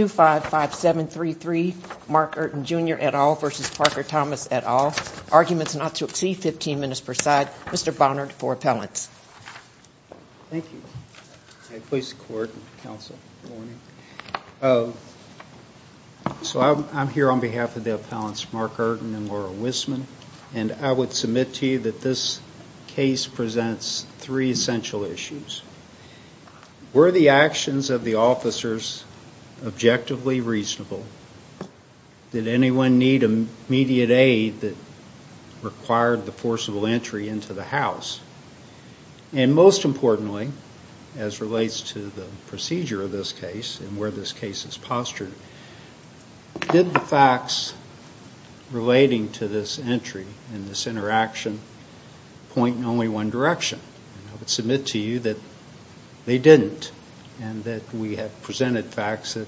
at all. Arguments not to exceed 15 minutes per side. Mr. Bonnard for appellants. Thank you. I'm here on behalf of the appellants Mark Eurton and Laura Wisman and I would submit to you that this case presents three essential issues. Were the actions of the officers of objectively reasonable? Did anyone need immediate aid that required the forcible entry into the house? And most importantly, as relates to the procedure of this case and where this case is postured, did the facts relating to this entry and this interaction point in only one direction? I would submit to you that they didn't and that we have presented facts that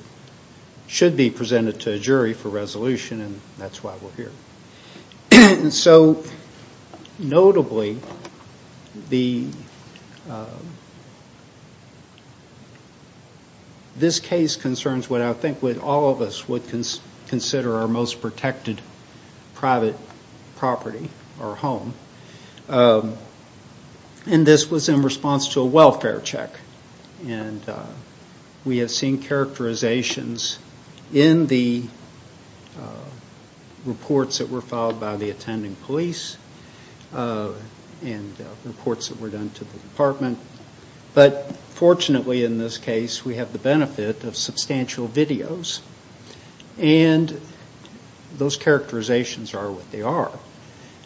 should be presented to a jury for resolution and that's why we're here. So notably, this case concerns what I think all of us would consider our most protected private property or home. And this was in response to a welfare check. And we have seen characterizations in the reports that were filed by the attending police and reports that were done to the department. But fortunately in this case we have the benefit of substantial videos and those characterizations are what they are.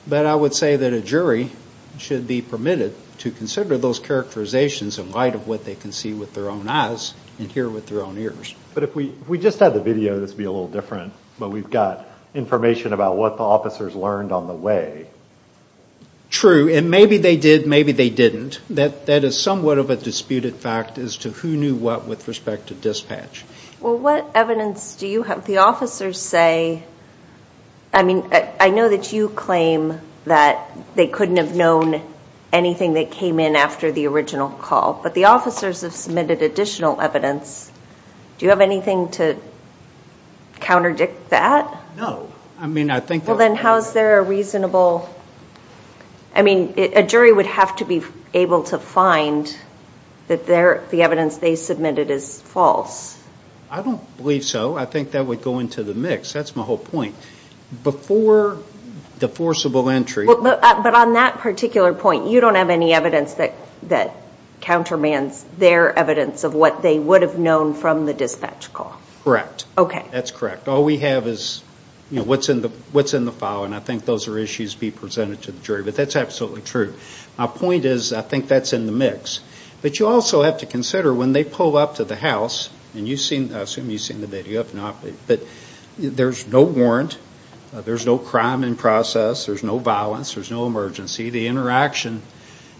But I would say that a jury should be permitted to consider those characterizations in light of what they can see with their own eyes and hear with their own ears. But if we just had the video this would be a little different, but we've got information about what the officers learned on the way. True, and maybe they did, maybe they didn't. That is somewhat of a disputed fact as to who knew what with respect to dispatch. Well what evidence do you have, the officers say, I mean I know that you claim that they couldn't have known anything that came in after the original call, but the officers have submitted additional evidence. Do you have anything to counterdict that? No, I mean I think that's... Well then how is there a reasonable, I mean a jury would have to be able to find that the evidence they submitted is false. I don't believe so, I think that would go into the mix, that's my whole point. Before the forcible entry... But on that particular point you don't have any evidence that countermands their evidence of what they would have known from the dispatch call. Correct, that's correct. All we have is what's in the file and I think those are issues to be presented to the jury, but that's absolutely true. My point is, I think that's in the mix. But you also have to consider when they pull up to the house and you've seen, I assume you've seen the video, but there's no warrant, there's no crime in process, there's no violence, there's no emergency, the interaction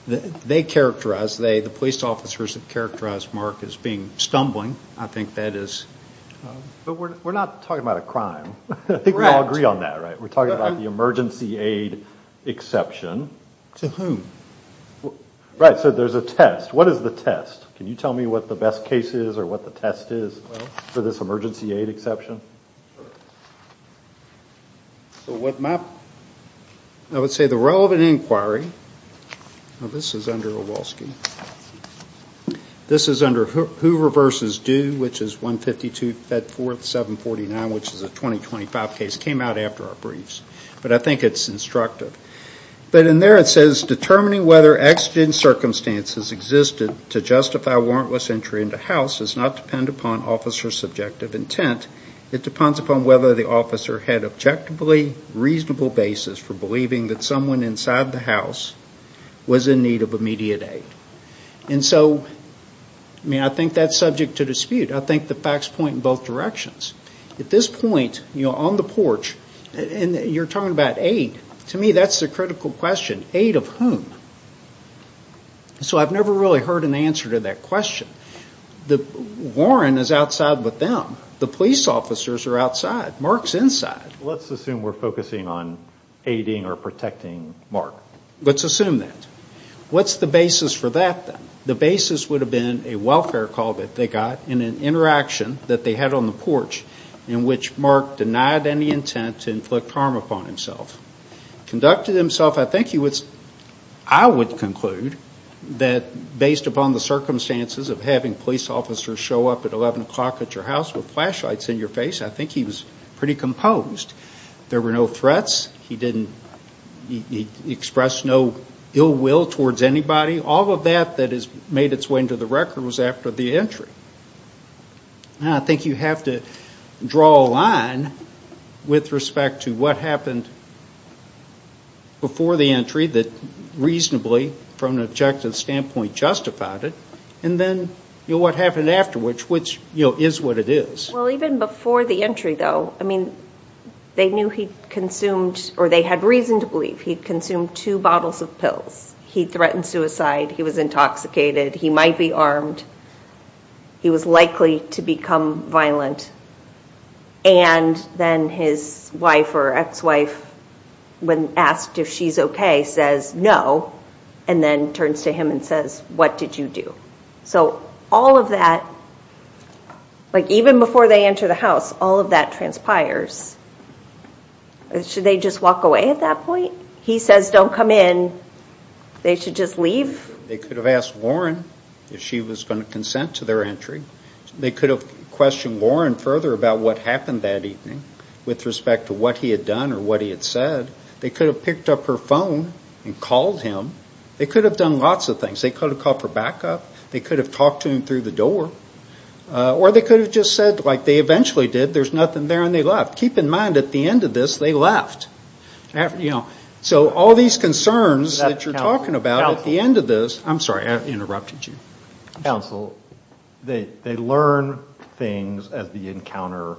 they characterize, the police officers have characterized Mark as being stumbling, I think that is... But we're not talking about a crime, I think we all agree on that, right? We're talking about the emergency aid exception. To whom? Right, so there's a test, what is the test? Can you tell me what the best case is or what the test is for this emergency aid exception? So what my... I would say the relevant inquiry, now this is under Awolski, this is under Hoover v. Due, which is 152 Fedforth 749, which is a 2025 case, came out after our briefs, but I think it's instructive. But in there it says, determining whether exigent circumstances existed to justify warrantless entry into house does not depend upon officer's subjective intent, it depends upon whether the officer had objectively reasonable basis for believing that someone inside the house was in need of immediate aid. And so, I think that's subject to dispute, I think the facts point in both directions. At this point, on the porch, and you're talking about aid, to me that's the critical question, aid of whom? So I've never really heard an answer to that question. The warrant is outside with them, the police officers are outside, Mark's inside. Let's assume we're focusing on aiding or protecting Mark. Let's assume that. What's the basis for that then? The basis would have been a welfare call that they got in an interaction that they had on the porch in which Mark denied any intent to inflict harm upon himself. Conducted himself, I think he would... I would conclude that based upon the circumstances of having police officers show up at 11 o'clock at your house with flashlights in your face, I think he was pretty composed. There were no threats, he didn't express no ill will towards anybody, all of that that has made its way into the record was after the entry. I think you have to draw a line with respect to what happened before the entry that reasonably, from an objective standpoint, justified it, and then what happened after which, which is what it is. Well, even before the entry though, I mean, they knew he consumed, or they had reason to believe he'd consumed two bottles of pills. He threatened suicide, he was intoxicated, he might be armed, he was likely to become violent, and then his wife or ex-wife, when asked if she's okay, says no, and then turns to him and says, what did you do? So all of that, like even before they enter the house, all of that transpires. Should they just walk away at that point? He says don't come in, they should just leave? They could have asked Lauren if she was going to consent to their entry. They could have questioned Lauren further about what happened that evening with respect to what he had done or what he had said. They could have picked up her phone and called him. They could have done lots of things. They could have called for backup. They could have talked to him through the door. Or they could have just said, like they eventually did, there's nothing there and they left. Keep in mind at the end of this, they left. So all these concerns that you're talking about at the end of this, I'm sorry, I interrupted you. Counsel, they learn things as the encounter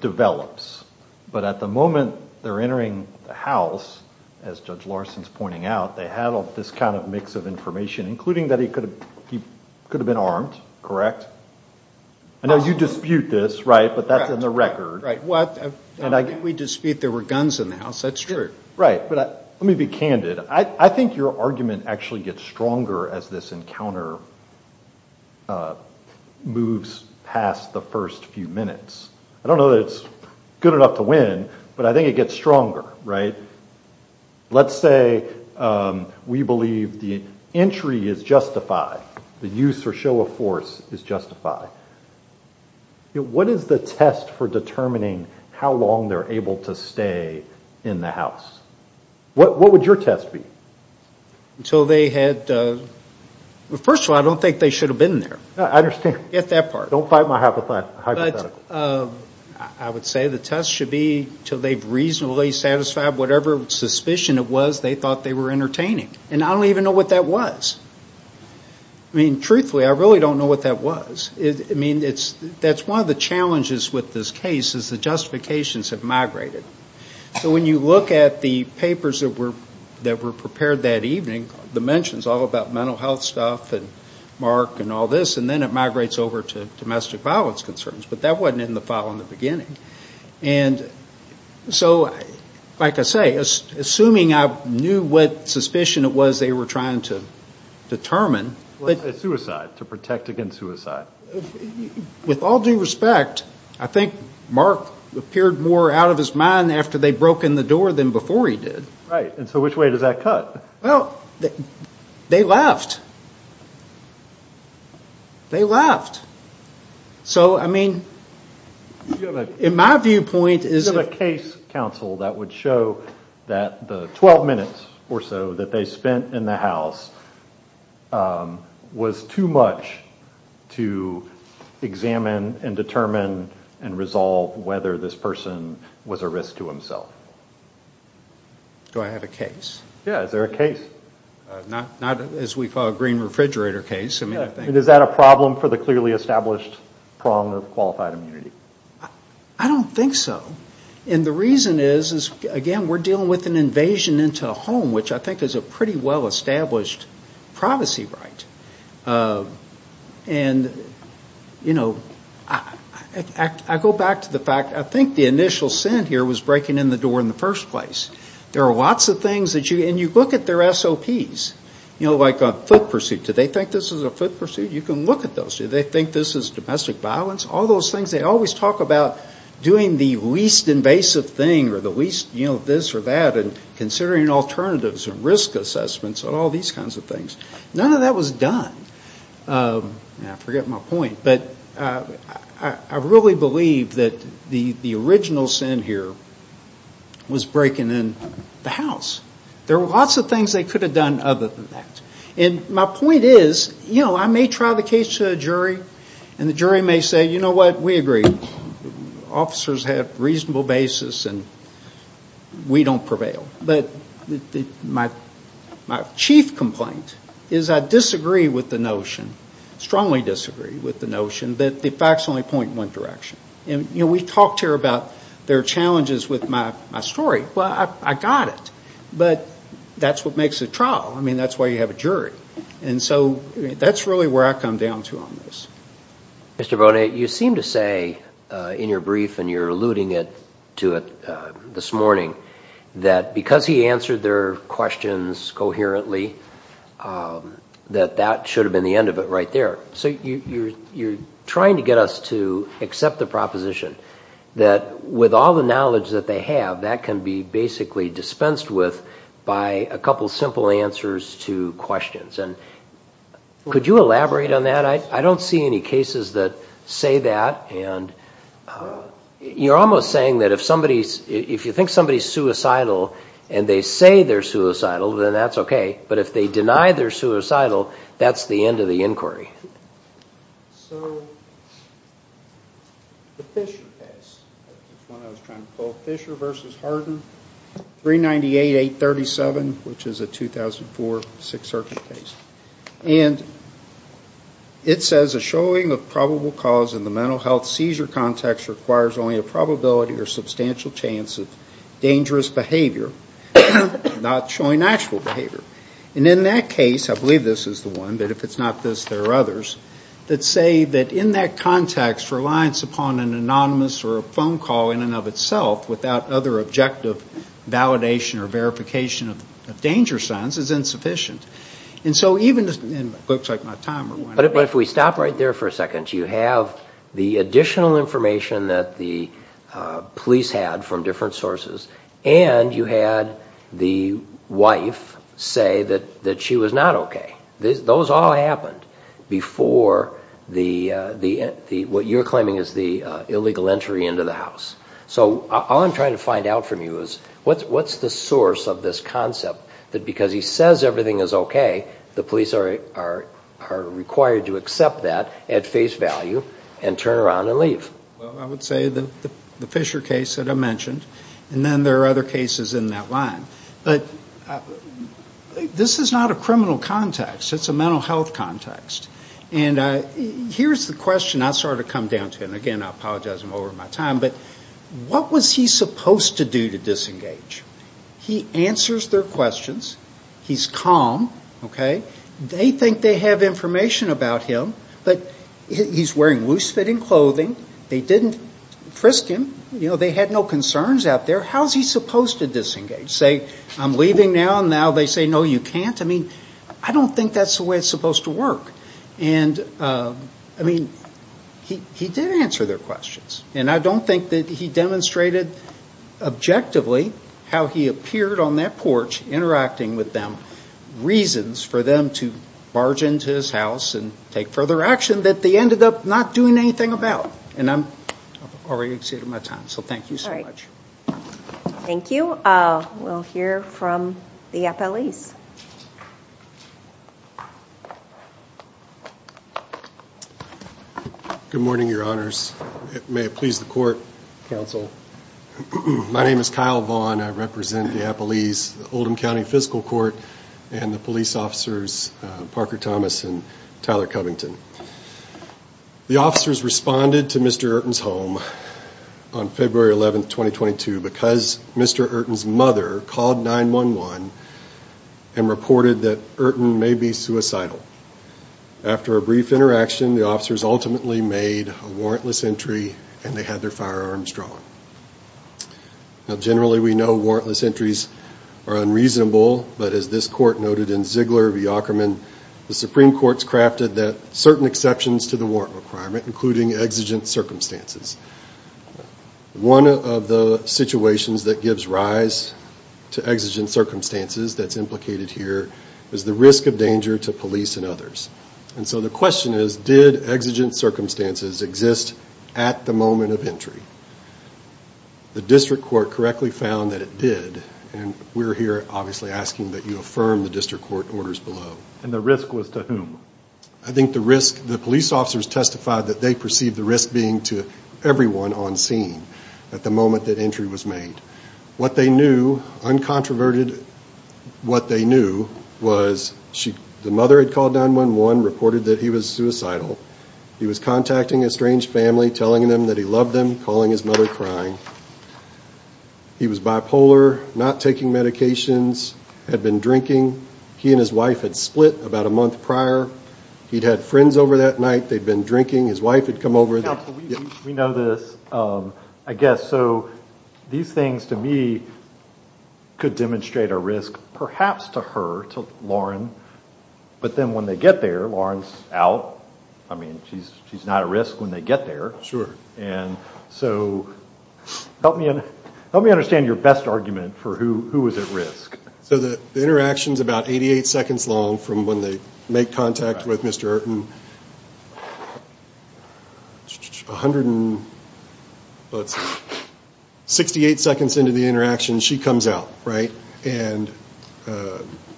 develops. But at the moment they're entering the house, as Judge Larson's pointing out, they have this kind of mix of information, including that he could have been armed, correct? I know you dispute this, right? But that's in the record. Right. What? If we dispute there were guns in the house, that's true. Right. But let me be candid. I think your argument actually gets stronger as this encounter moves past the first few minutes. I don't know that it's good enough to win, but I think it gets stronger, right? Let's say we believe the entry is justified, the use or show of force is justified. What is the test for determining how long they're able to stay in the house? What would your test be? Until they had, first of all, I don't think they should have been there. I understand. Get that part. Don't fight my hypothetical. But I would say the test should be until they've reasonably satisfied whatever suspicion it was they thought they were entertaining. And I don't even know what that was. I mean, truthfully, I really don't know what that was. I mean, that's one of the challenges with this case, is the justifications have migrated. So when you look at the papers that were prepared that evening, the mentions all about mental health stuff and Mark and all this, and then it migrates over to domestic violence concerns. But that wasn't in the file in the beginning. And so, like I say, assuming I knew what suspicion it was they were trying to determine. Suicide. To protect against suicide. With all due respect, I think Mark appeared more out of his mind after they'd broken the door than before he did. Right. And so which way does that cut? Well, they left. They left. So, I mean, in my viewpoint, is it... Do you have a case, counsel, that would show that the 12 minutes or so that they spent in the house was too much to examine and determine and resolve whether this person was a risk to himself? Do I have a case? Yeah. Is there a case? Not, as we thought, a green refrigerator case. I mean, I think... Is that a problem for the clearly established prong of qualified immunity? I don't think so. And the reason is, again, we're dealing with an invasion into a home, which I think is a pretty well-established privacy right. And, you know, I go back to the fact, I think the initial sin here was breaking in the door in the first place. There are lots of things that you... And you look at their SOPs, you know, like a foot pursuit. Do they think this is a foot pursuit? You can look at those. Do they think this is domestic violence? All those things. They always talk about doing the least invasive thing or the least, you know, this or that and considering alternatives and risk assessments and all these kinds of things. None of that was done. I forget my point. But I really believe that the original sin here was breaking in the house. There were lots of things they could have done other than that. And my point is, you know, I may try the case to a jury and the jury may say, you know what, we agree. Officers have reasonable basis and we don't prevail. But my chief complaint is I disagree with the notion, strongly disagree with the notion that the facts only point in one direction. And, you know, we talked here about there are challenges with my story. Well, I got it. But that's what makes a trial. I mean, that's why you have a jury. And so that's really where I come down to on this. Mr. Bonet, you seem to say in your brief and you're alluding to it this morning that because he answered their questions coherently, that that should have been the end of it right there. So you're trying to get us to accept the proposition that with all the knowledge that they have, that can be basically dispensed with by a couple simple answers to questions. And could you elaborate on that? I don't see any cases that say that. And you're almost saying that if somebody's, if you think somebody's suicidal and they say they're suicidal, then that's okay. But if they deny they're suicidal, that's the end of the inquiry. So the Fisher case, the one I was trying to pull, Fisher v. Hardin, 398-837, which is a 2004 Sixth Circuit case. And it says a showing of probable cause in the mental health seizure context requires only a probability or substantial chance of dangerous behavior, not showing actual behavior. And in that case, I believe this is the one, but if it's not this, there are others, that say that in that context, reliance upon an anonymous or a phone call in and of itself without other objective validation or verification of danger signs is insufficient. And so even, it looks like my timer went off. But if we stop right there for a second, you have the additional information that the police had from different sources, and you had the wife say that she was not okay. Those all happened before what you're claiming is the illegal entry into the house. So all I'm trying to find out from you is what's the source of this concept that because he says everything is okay, the police are required to accept that at face value and turn around and leave. Well, I would say the Fisher case that I mentioned, and then there are other cases in that line. But this is not a criminal context. It's a mental health context. And here's the question I sort of come down to, and again, I apologize, I'm over my time, but what was he supposed to do to disengage? He answers their questions. He's calm. Okay? They think they have information about him, but he's wearing loose-fitting clothing. They didn't frisk him. You know, they had no concerns out there. How's he supposed to disengage? Say, I'm leaving now, and now they say, no, you can't? I mean, I don't think that's the way it's supposed to work. And, I mean, he did answer their questions. And I don't think that he demonstrated objectively how he appeared on that porch interacting with them, reasons for them to barge into his house and take further action that they ended up not doing anything about. And I've already exceeded my time. So thank you so much. Thank you. We'll hear from the appellees. Good morning, your honors. May it please the court, counsel. My name is Kyle Vaughn. I represent the appellees, the Oldham County Fiscal Court, and the police officers, Parker Thomas and Tyler Covington. The officers responded to Mr. Ertin's home on February 11, 2022, because Mr. Ertin's mother called 911 and reported that Ertin may be suicidal. After a brief interaction, the officers ultimately made a warrantless entry, and they had their firearms drawn. Now, generally, we know warrantless entries are unreasonable, but as this court noted in Ziegler v. Ackerman, the Supreme Court's crafted that certain exceptions to the warrant requirement, including exigent circumstances. One of the situations that gives rise to exigent circumstances that's implicated here is the risk of danger to police and others. And so the question is, did exigent circumstances exist at the moment of entry? The district court correctly found that it did. And we're here, obviously, asking that you affirm the district court orders below. And the risk was to whom? I think the risk, the police officers testified that they perceived the risk being to everyone on scene at the moment that entry was made. What they knew, uncontroverted what they knew, was the mother had called 911, reported that he was suicidal. He was contacting a strange family, telling them that he loved them, calling his mother crying. He was bipolar, not taking medications, had been drinking. He and his wife had split about a month prior. He'd had friends over that night. They'd been drinking. His wife had come over. We know this, I guess. So these things, to me, could demonstrate a risk perhaps to her, to Lauren, but then when they get there, Lauren's out. I mean, she's not at risk when they get there. And so help me understand your best argument for who was at risk. So the interaction's about 88 seconds long from when they make contact with Mr. Ayrton. 168 seconds into the interaction, she comes out, right? And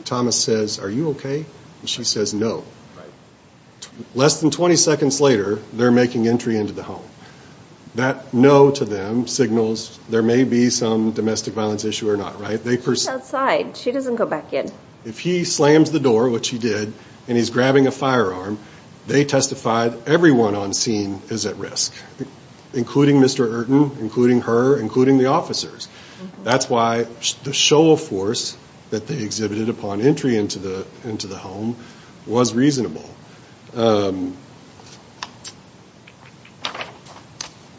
Thomas says, are you okay? And she says no. Less than 20 seconds later, they're making entry into the home. That no to them signals there may be some domestic violence issue or not, right? She's outside. She doesn't go back in. If he slams the door, which he did, and he's grabbing a firearm, they testified everyone on scene is at risk, including Mr. Ayrton, including her, including the officers. That's why the show of force that they exhibited upon entry into the home was reasonable.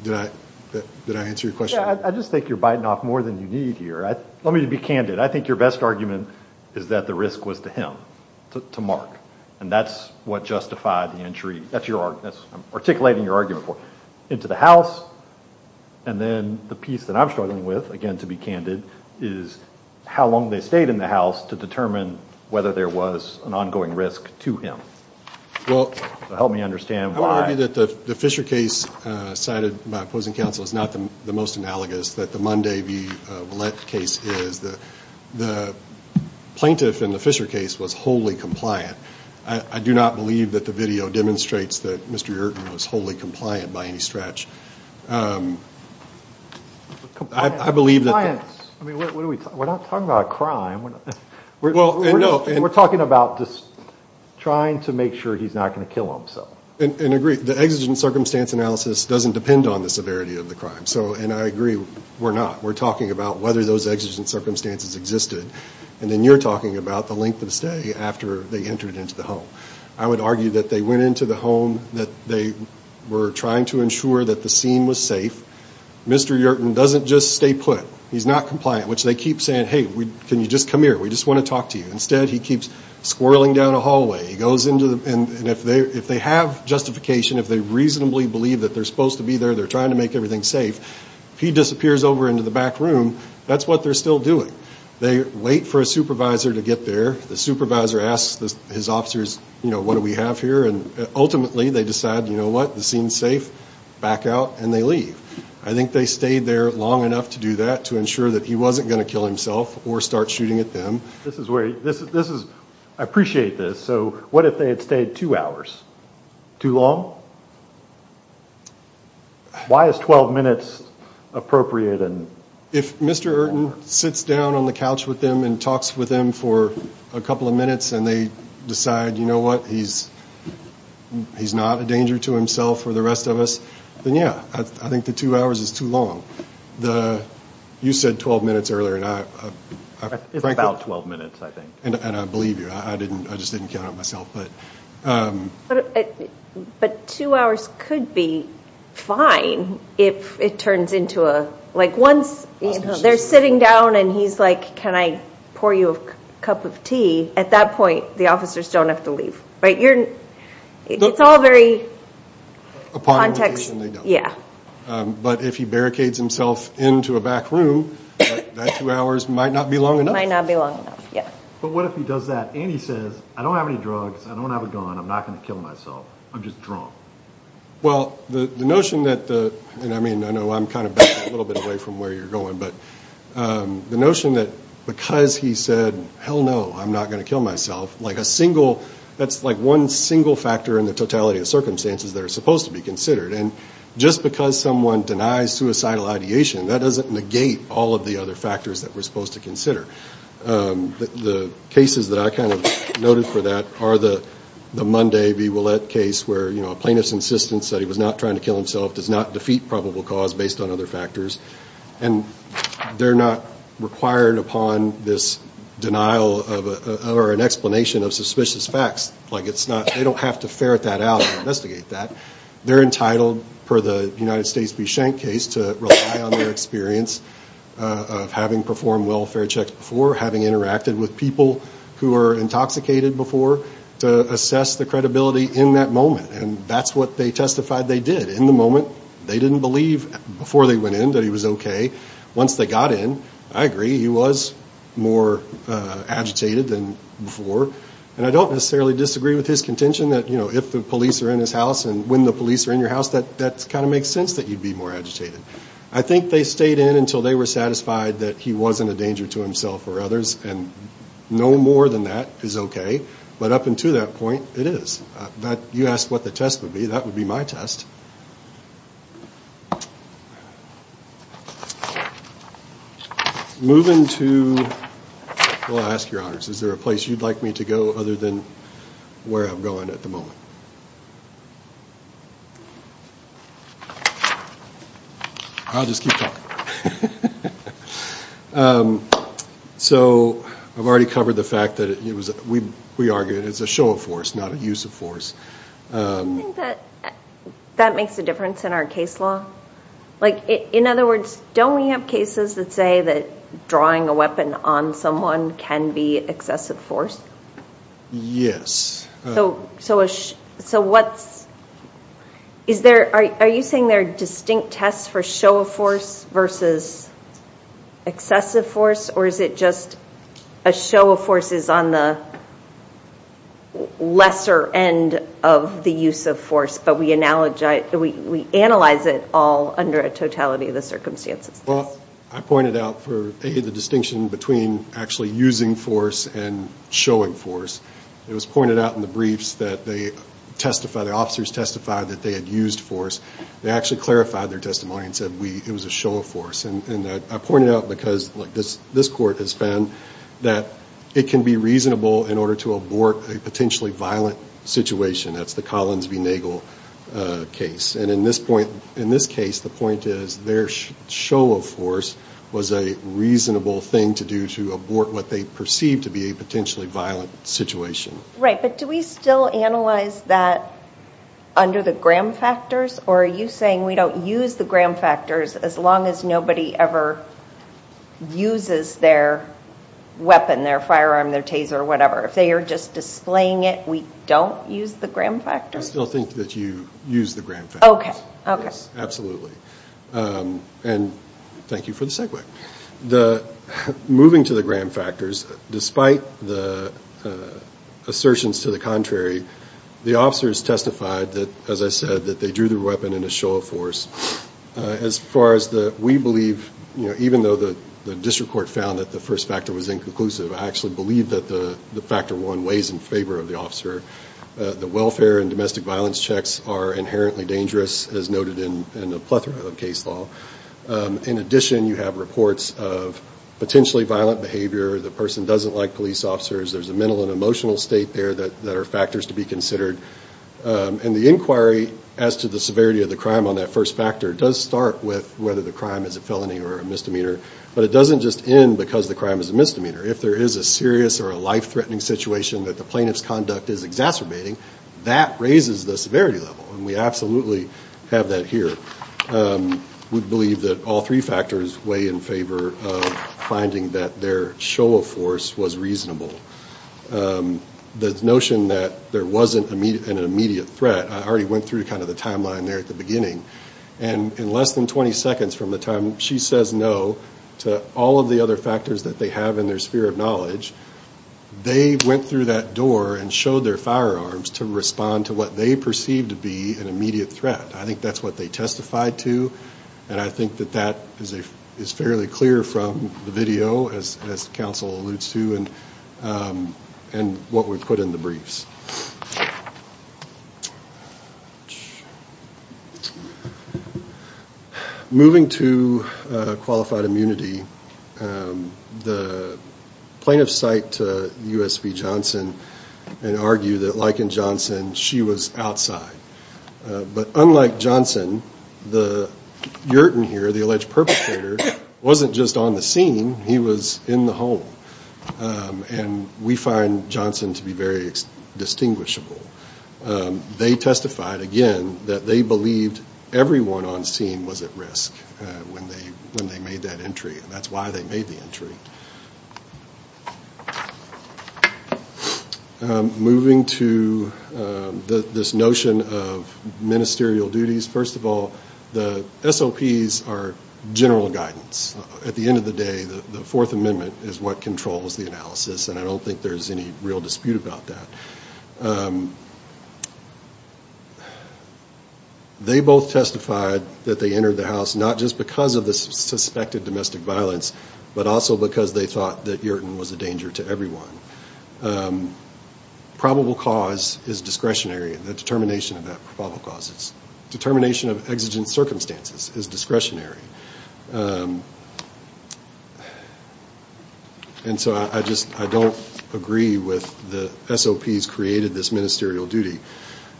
Did I answer your question? I just think you're biting off more than you need here. Let me be candid. I think your best argument is that the risk was to him, to Mark, and that's what justified the entry. That's your argument. That's what I'm articulating your argument for. And then the piece that I'm struggling with, again, to be candid, is how long they stayed in the house to determine whether there was an ongoing risk to him. I want to argue that the Fisher case cited by opposing counsel is not the most analogous that the Monday v. Ouellette case is. The plaintiff in the Fisher case was wholly compliant. I do not believe that the video demonstrates that Mr. Ayrton was wholly compliant by any stretch. Compliance? I mean, we're not talking about a crime. We're talking about just trying to make sure he's not going to kill himself. And I agree. The exigent circumstance analysis doesn't depend on the severity of the crime. And I agree, we're not. We're talking about whether those exigent circumstances existed. And then you're talking about the length of stay after they entered into the home. I would argue that they went into the home, that they were trying to ensure that the scene was safe. Mr. Ayrton doesn't just stay put. He's not compliant, which they keep saying, hey, can you just come here? We just want to talk to you. Instead, he keeps squirreling down a hallway. He goes into the, and if they have justification, if they reasonably believe that they're supposed to be there, they're trying to make everything safe, if he disappears over into the back room, that's what they're still doing. They wait for a supervisor to get there. The supervisor asks his officers, you know, what do we have here? And ultimately, they decide, you know what, the scene's safe, back out, and they leave. I think they stayed there long enough to do that, to ensure that he wasn't going to kill himself or start shooting at them. I appreciate this, so what if they had stayed two hours? Too long? Why is 12 minutes appropriate? If Mr. Ayrton sits down on the couch with them and talks with them for a couple of minutes and they decide, you know what, he's not a danger to himself or the rest of us, then yeah, I think the two hours is too long. You said 12 minutes earlier. It's about 12 minutes, I think. And I believe you. I just didn't count it myself. But two hours could be fine if it turns into a, like once they're sitting down and he's like, can I pour you a cup of tea? At that point, the officers don't have to leave, right? It's all very context. Yeah. But if he barricades himself into a back room, that two hours might not be long enough. Might not be long enough, yeah. But what if he does that and he says, I don't have any drugs, I don't have a gun, I'm not going to kill myself, I'm just drunk? Well, the notion that the, and I mean, I know I'm kind of backing a little bit away from where you're going, but the notion that because he said, hell no, I'm not going to kill myself, like a single, that's like one single factor in the totality of circumstances that are supposed to be considered. And just because someone denies suicidal ideation, that doesn't negate all of the other factors that we're supposed to consider. The cases that I kind of noted for that are the Monday v. Ouellette case where, you know, a plaintiff's insistence that he was not trying to kill himself does not defeat probable cause based on other factors. And they're not required upon this denial or an explanation of suspicious facts. Like, it's not, they don't have to ferret that out and investigate that. They're entitled, per the United States v. Schenck case, to rely on their experience of having performed welfare checks before, having interacted with people who are intoxicated before, to assess the credibility in that moment. And that's what they testified they did in the moment. They didn't believe before they went in that he was okay. Once they got in, I agree, he was more agitated than before. And I don't necessarily disagree with his contention that, you know, if the police are in his house and when the police are in your house, that kind of makes sense that you'd be more agitated. I think they stayed in until they were satisfied that he wasn't a danger to himself or others. And no more than that is okay. But up until that point, it is. You asked what the test would be. That would be my test. Moving to, well, I'll ask your honors, is there a place you'd like me to go other than where I'm going at the moment? I'll just keep talking. So I've already covered the fact that we argue it's a show of force, not a use of force. Do you think that makes a difference in our case law? Like, in other words, don't we have cases that say that drawing a weapon on someone can be excessive force? Yes. So what's – is there – are you saying there are distinct tests for show of force versus excessive force? Or is it just a show of force is on the lesser end of the use of force, but we analyze it all under a totality of the circumstances? Well, I pointed out for A, the distinction between actually using force and showing force. It was pointed out in the briefs that they testified – the officers testified that they had used force. They actually clarified their testimony and said it was a show of force. And I pointed it out because, look, this court has found that it can be reasonable in order to abort a potentially violent situation. That's the Collins v. Nagel case. And in this point – in this case, the point is their show of force was a reasonable thing to do to abort what they perceived to be a potentially violent situation. Right, but do we still analyze that under the Graham factors? Or are you saying we don't use the Graham factors as long as nobody ever uses their weapon, their firearm, their taser, whatever? If they are just displaying it, we don't use the Graham factors? I still think that you use the Graham factors. Okay, okay. Yes, absolutely. And thank you for the segue. Moving to the Graham factors, despite the assertions to the contrary, the officers testified that, as I said, that they drew their weapon in a show of force. As far as we believe, even though the district court found that the first factor was inconclusive, I actually believe that the factor one weighs in favor of the officer. The welfare and domestic violence checks are inherently dangerous, as noted in a plethora of case law. In addition, you have reports of potentially violent behavior. The person doesn't like police officers. There's a mental and emotional state there that are factors to be considered. And the inquiry as to the severity of the crime on that first factor does start with whether the crime is a felony or a misdemeanor, but it doesn't just end because the crime is a misdemeanor. If there is a serious or a life-threatening situation that the plaintiff's conduct is exacerbating, that raises the severity level, and we absolutely have that here. We believe that all three factors weigh in favor of finding that their show of force was reasonable. The notion that there wasn't an immediate threat, I already went through kind of the timeline there at the beginning, and in less than 20 seconds from the time she says no to all of the other factors that they have in their sphere of knowledge, they went through that door and showed their firearms to respond to what they perceived to be an immediate threat. I think that's what they testified to, and I think that that is fairly clear from the video, as counsel alludes to, and what we put in the briefs. Moving to qualified immunity, the plaintiffs cite USP Johnson and argue that, like in Johnson, she was outside. But unlike Johnson, Yurton here, the alleged perpetrator, wasn't just on the scene. He was in the home, and we find Johnson to be very distinguishable. They testified, again, that they believed everyone on scene was at risk when they made that entry, and that's why they made the entry. Moving to this notion of ministerial duties, first of all, the SOPs are general guidance. At the end of the day, the Fourth Amendment is what controls the analysis, and I don't think there's any real dispute about that. They both testified that they entered the house not just because of the suspected domestic violence, but also because they thought that Yurton was a danger to everyone. Probable cause is discretionary, the determination of that probable cause. Determination of exigent circumstances is discretionary. And so I just don't agree with the SOPs created this ministerial duty.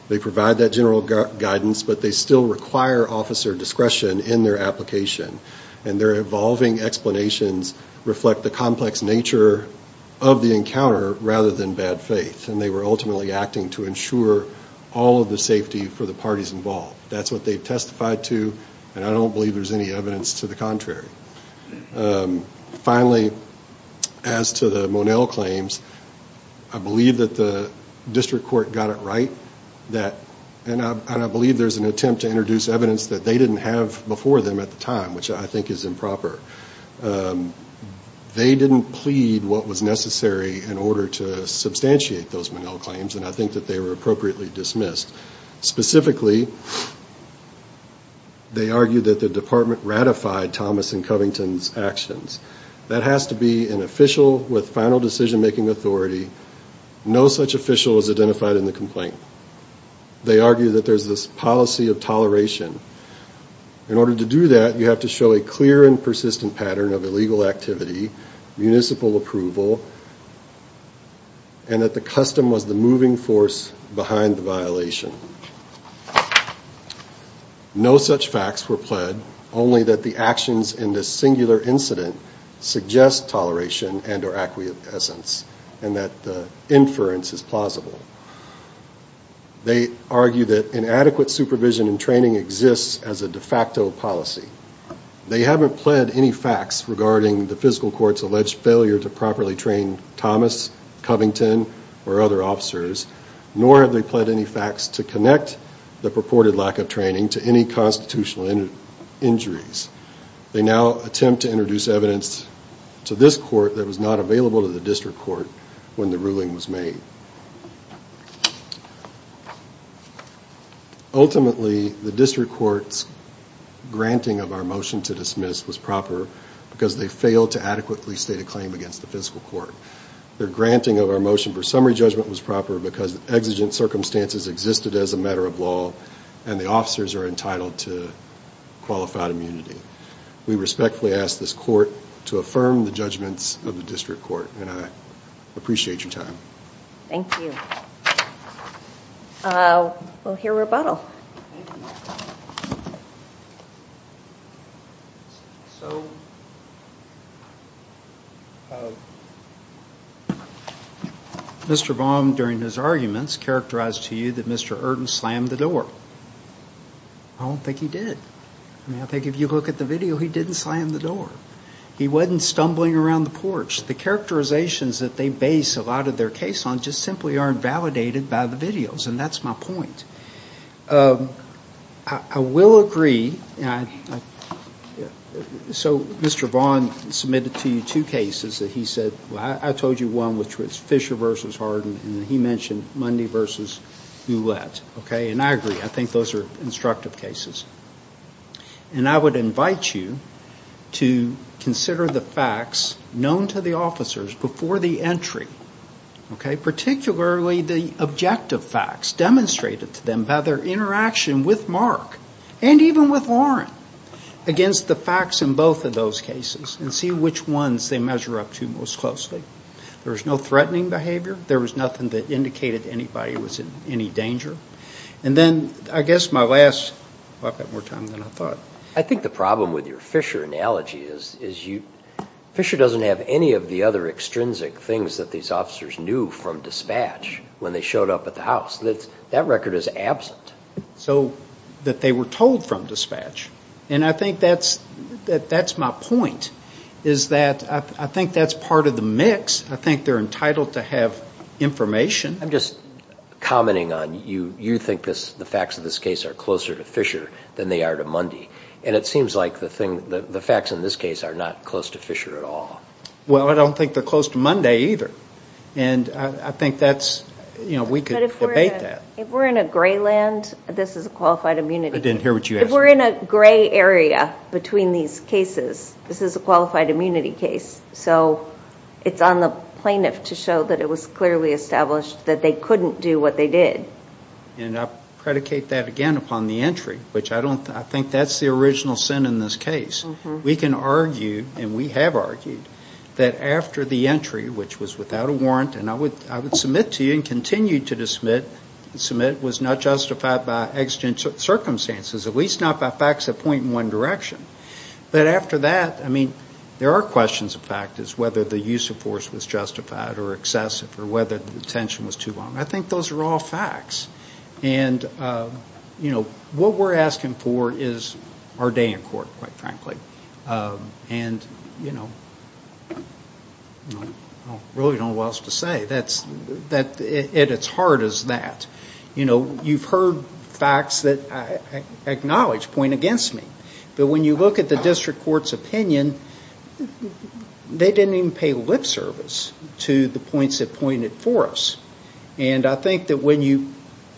They provide that general guidance, but they still require officer discretion in their application, and their evolving explanations reflect the complex nature of the encounter rather than bad faith, and they were ultimately acting to ensure all of the safety for the parties involved. That's what they testified to, and I don't believe there's any evidence to the contrary. Finally, as to the Monell claims, I believe that the district court got it right. And I believe there's an attempt to introduce evidence that they didn't have before them at the time, which I think is improper. They didn't plead what was necessary in order to substantiate those Monell claims, and I think that they were appropriately dismissed. Specifically, they argued that the department ratified Thomas and Covington's actions. That has to be an official with final decision-making authority. No such official was identified in the complaint. They argue that there's this policy of toleration. In order to do that, you have to show a clear and persistent pattern of illegal activity, municipal approval, and that the custom was the moving force behind the violation. No such facts were pled, only that the actions in this singular incident suggest toleration and or acquiescence, and that the inference is plausible. They argue that inadequate supervision and training exists as a de facto policy. They haven't pled any facts regarding the physical court's alleged failure to properly train Thomas, Covington, or other officers, nor have they pled any facts to connect the purported lack of training to any constitutional injuries. They now attempt to introduce evidence to this court that was not available to the district court when the ruling was made. Ultimately, the district court's granting of our motion to dismiss was proper, because they failed to adequately state a claim against the physical court. Their granting of our motion for summary judgment was proper because exigent circumstances existed as a matter of law, and the officers are entitled to qualified immunity. We respectfully ask this court to affirm the judgments of the district court, and I appreciate your time. Thank you. We'll hear rebuttal. Mr. Baum, during his arguments, characterized to you that Mr. Erden slammed the door. I don't think he did. I mean, I think if you look at the video, he didn't slam the door. He wasn't stumbling around the porch. The characterizations that they base a lot of their case on just simply aren't validated by the videos, and that's my point. I will agree. So Mr. Vaughn submitted to you two cases that he said, well, I told you one, which was Fisher v. Erden, and he mentioned Mundy v. Ouellette. And I agree. I think those are instructive cases. And I would invite you to consider the facts known to the officers before the entry, okay, particularly the objective facts demonstrated to them by their interaction with Mark, and even with Lauren, against the facts in both of those cases, and see which ones they measure up to most closely. There was no threatening behavior. There was nothing that indicated anybody was in any danger. And then, I guess my last, well, I've got more time than I thought. I think the problem with your Fisher analogy is Fisher doesn't have any of the other extrinsic things that these officers knew from dispatch when they showed up at the house. That record is absent. So that they were told from dispatch. And I think that's my point, is that I think that's part of the myth. I think that the facts, I think they're entitled to have information. I'm just commenting on, you think the facts of this case are closer to Fisher than they are to Mundy. And it seems like the facts in this case are not close to Fisher at all. Well, I don't think they're close to Mundy either. And I think that's, you know, we could debate that. If we're in a gray land, this is a qualified immunity case. If we're in a gray area between these cases, this is a qualified immunity case. So it's on the plaintiff to show that it was clearly established that they couldn't do what they did. And I predicate that again upon the entry, which I think that's the original sin in this case. We can argue, and we have argued, that after the entry, which was without a warrant, and I would submit to you and continue to submit, was not justified by exigent circumstances, at least not by facts that point in one direction. But after that, I mean, there are questions of fact, whether the use of force was justified or excessive or whether the detention was too long. I think those are all facts. And, you know, what we're asking for is our day in court, quite frankly. And, you know, I really don't know what else to say. It's hard as that. You know, you've heard facts that I acknowledge point against me. But when you look at the district court's opinion, they didn't even pay lip service to the points that pointed for us. And I think that when you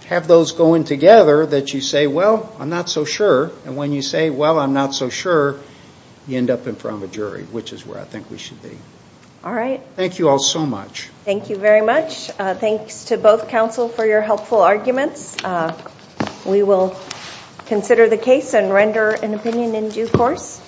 have those going together, that you say, well, I'm not so sure. And when you say, well, I'm not so sure, you end up in front of a jury, which is where I think we should be. Thank you all so much.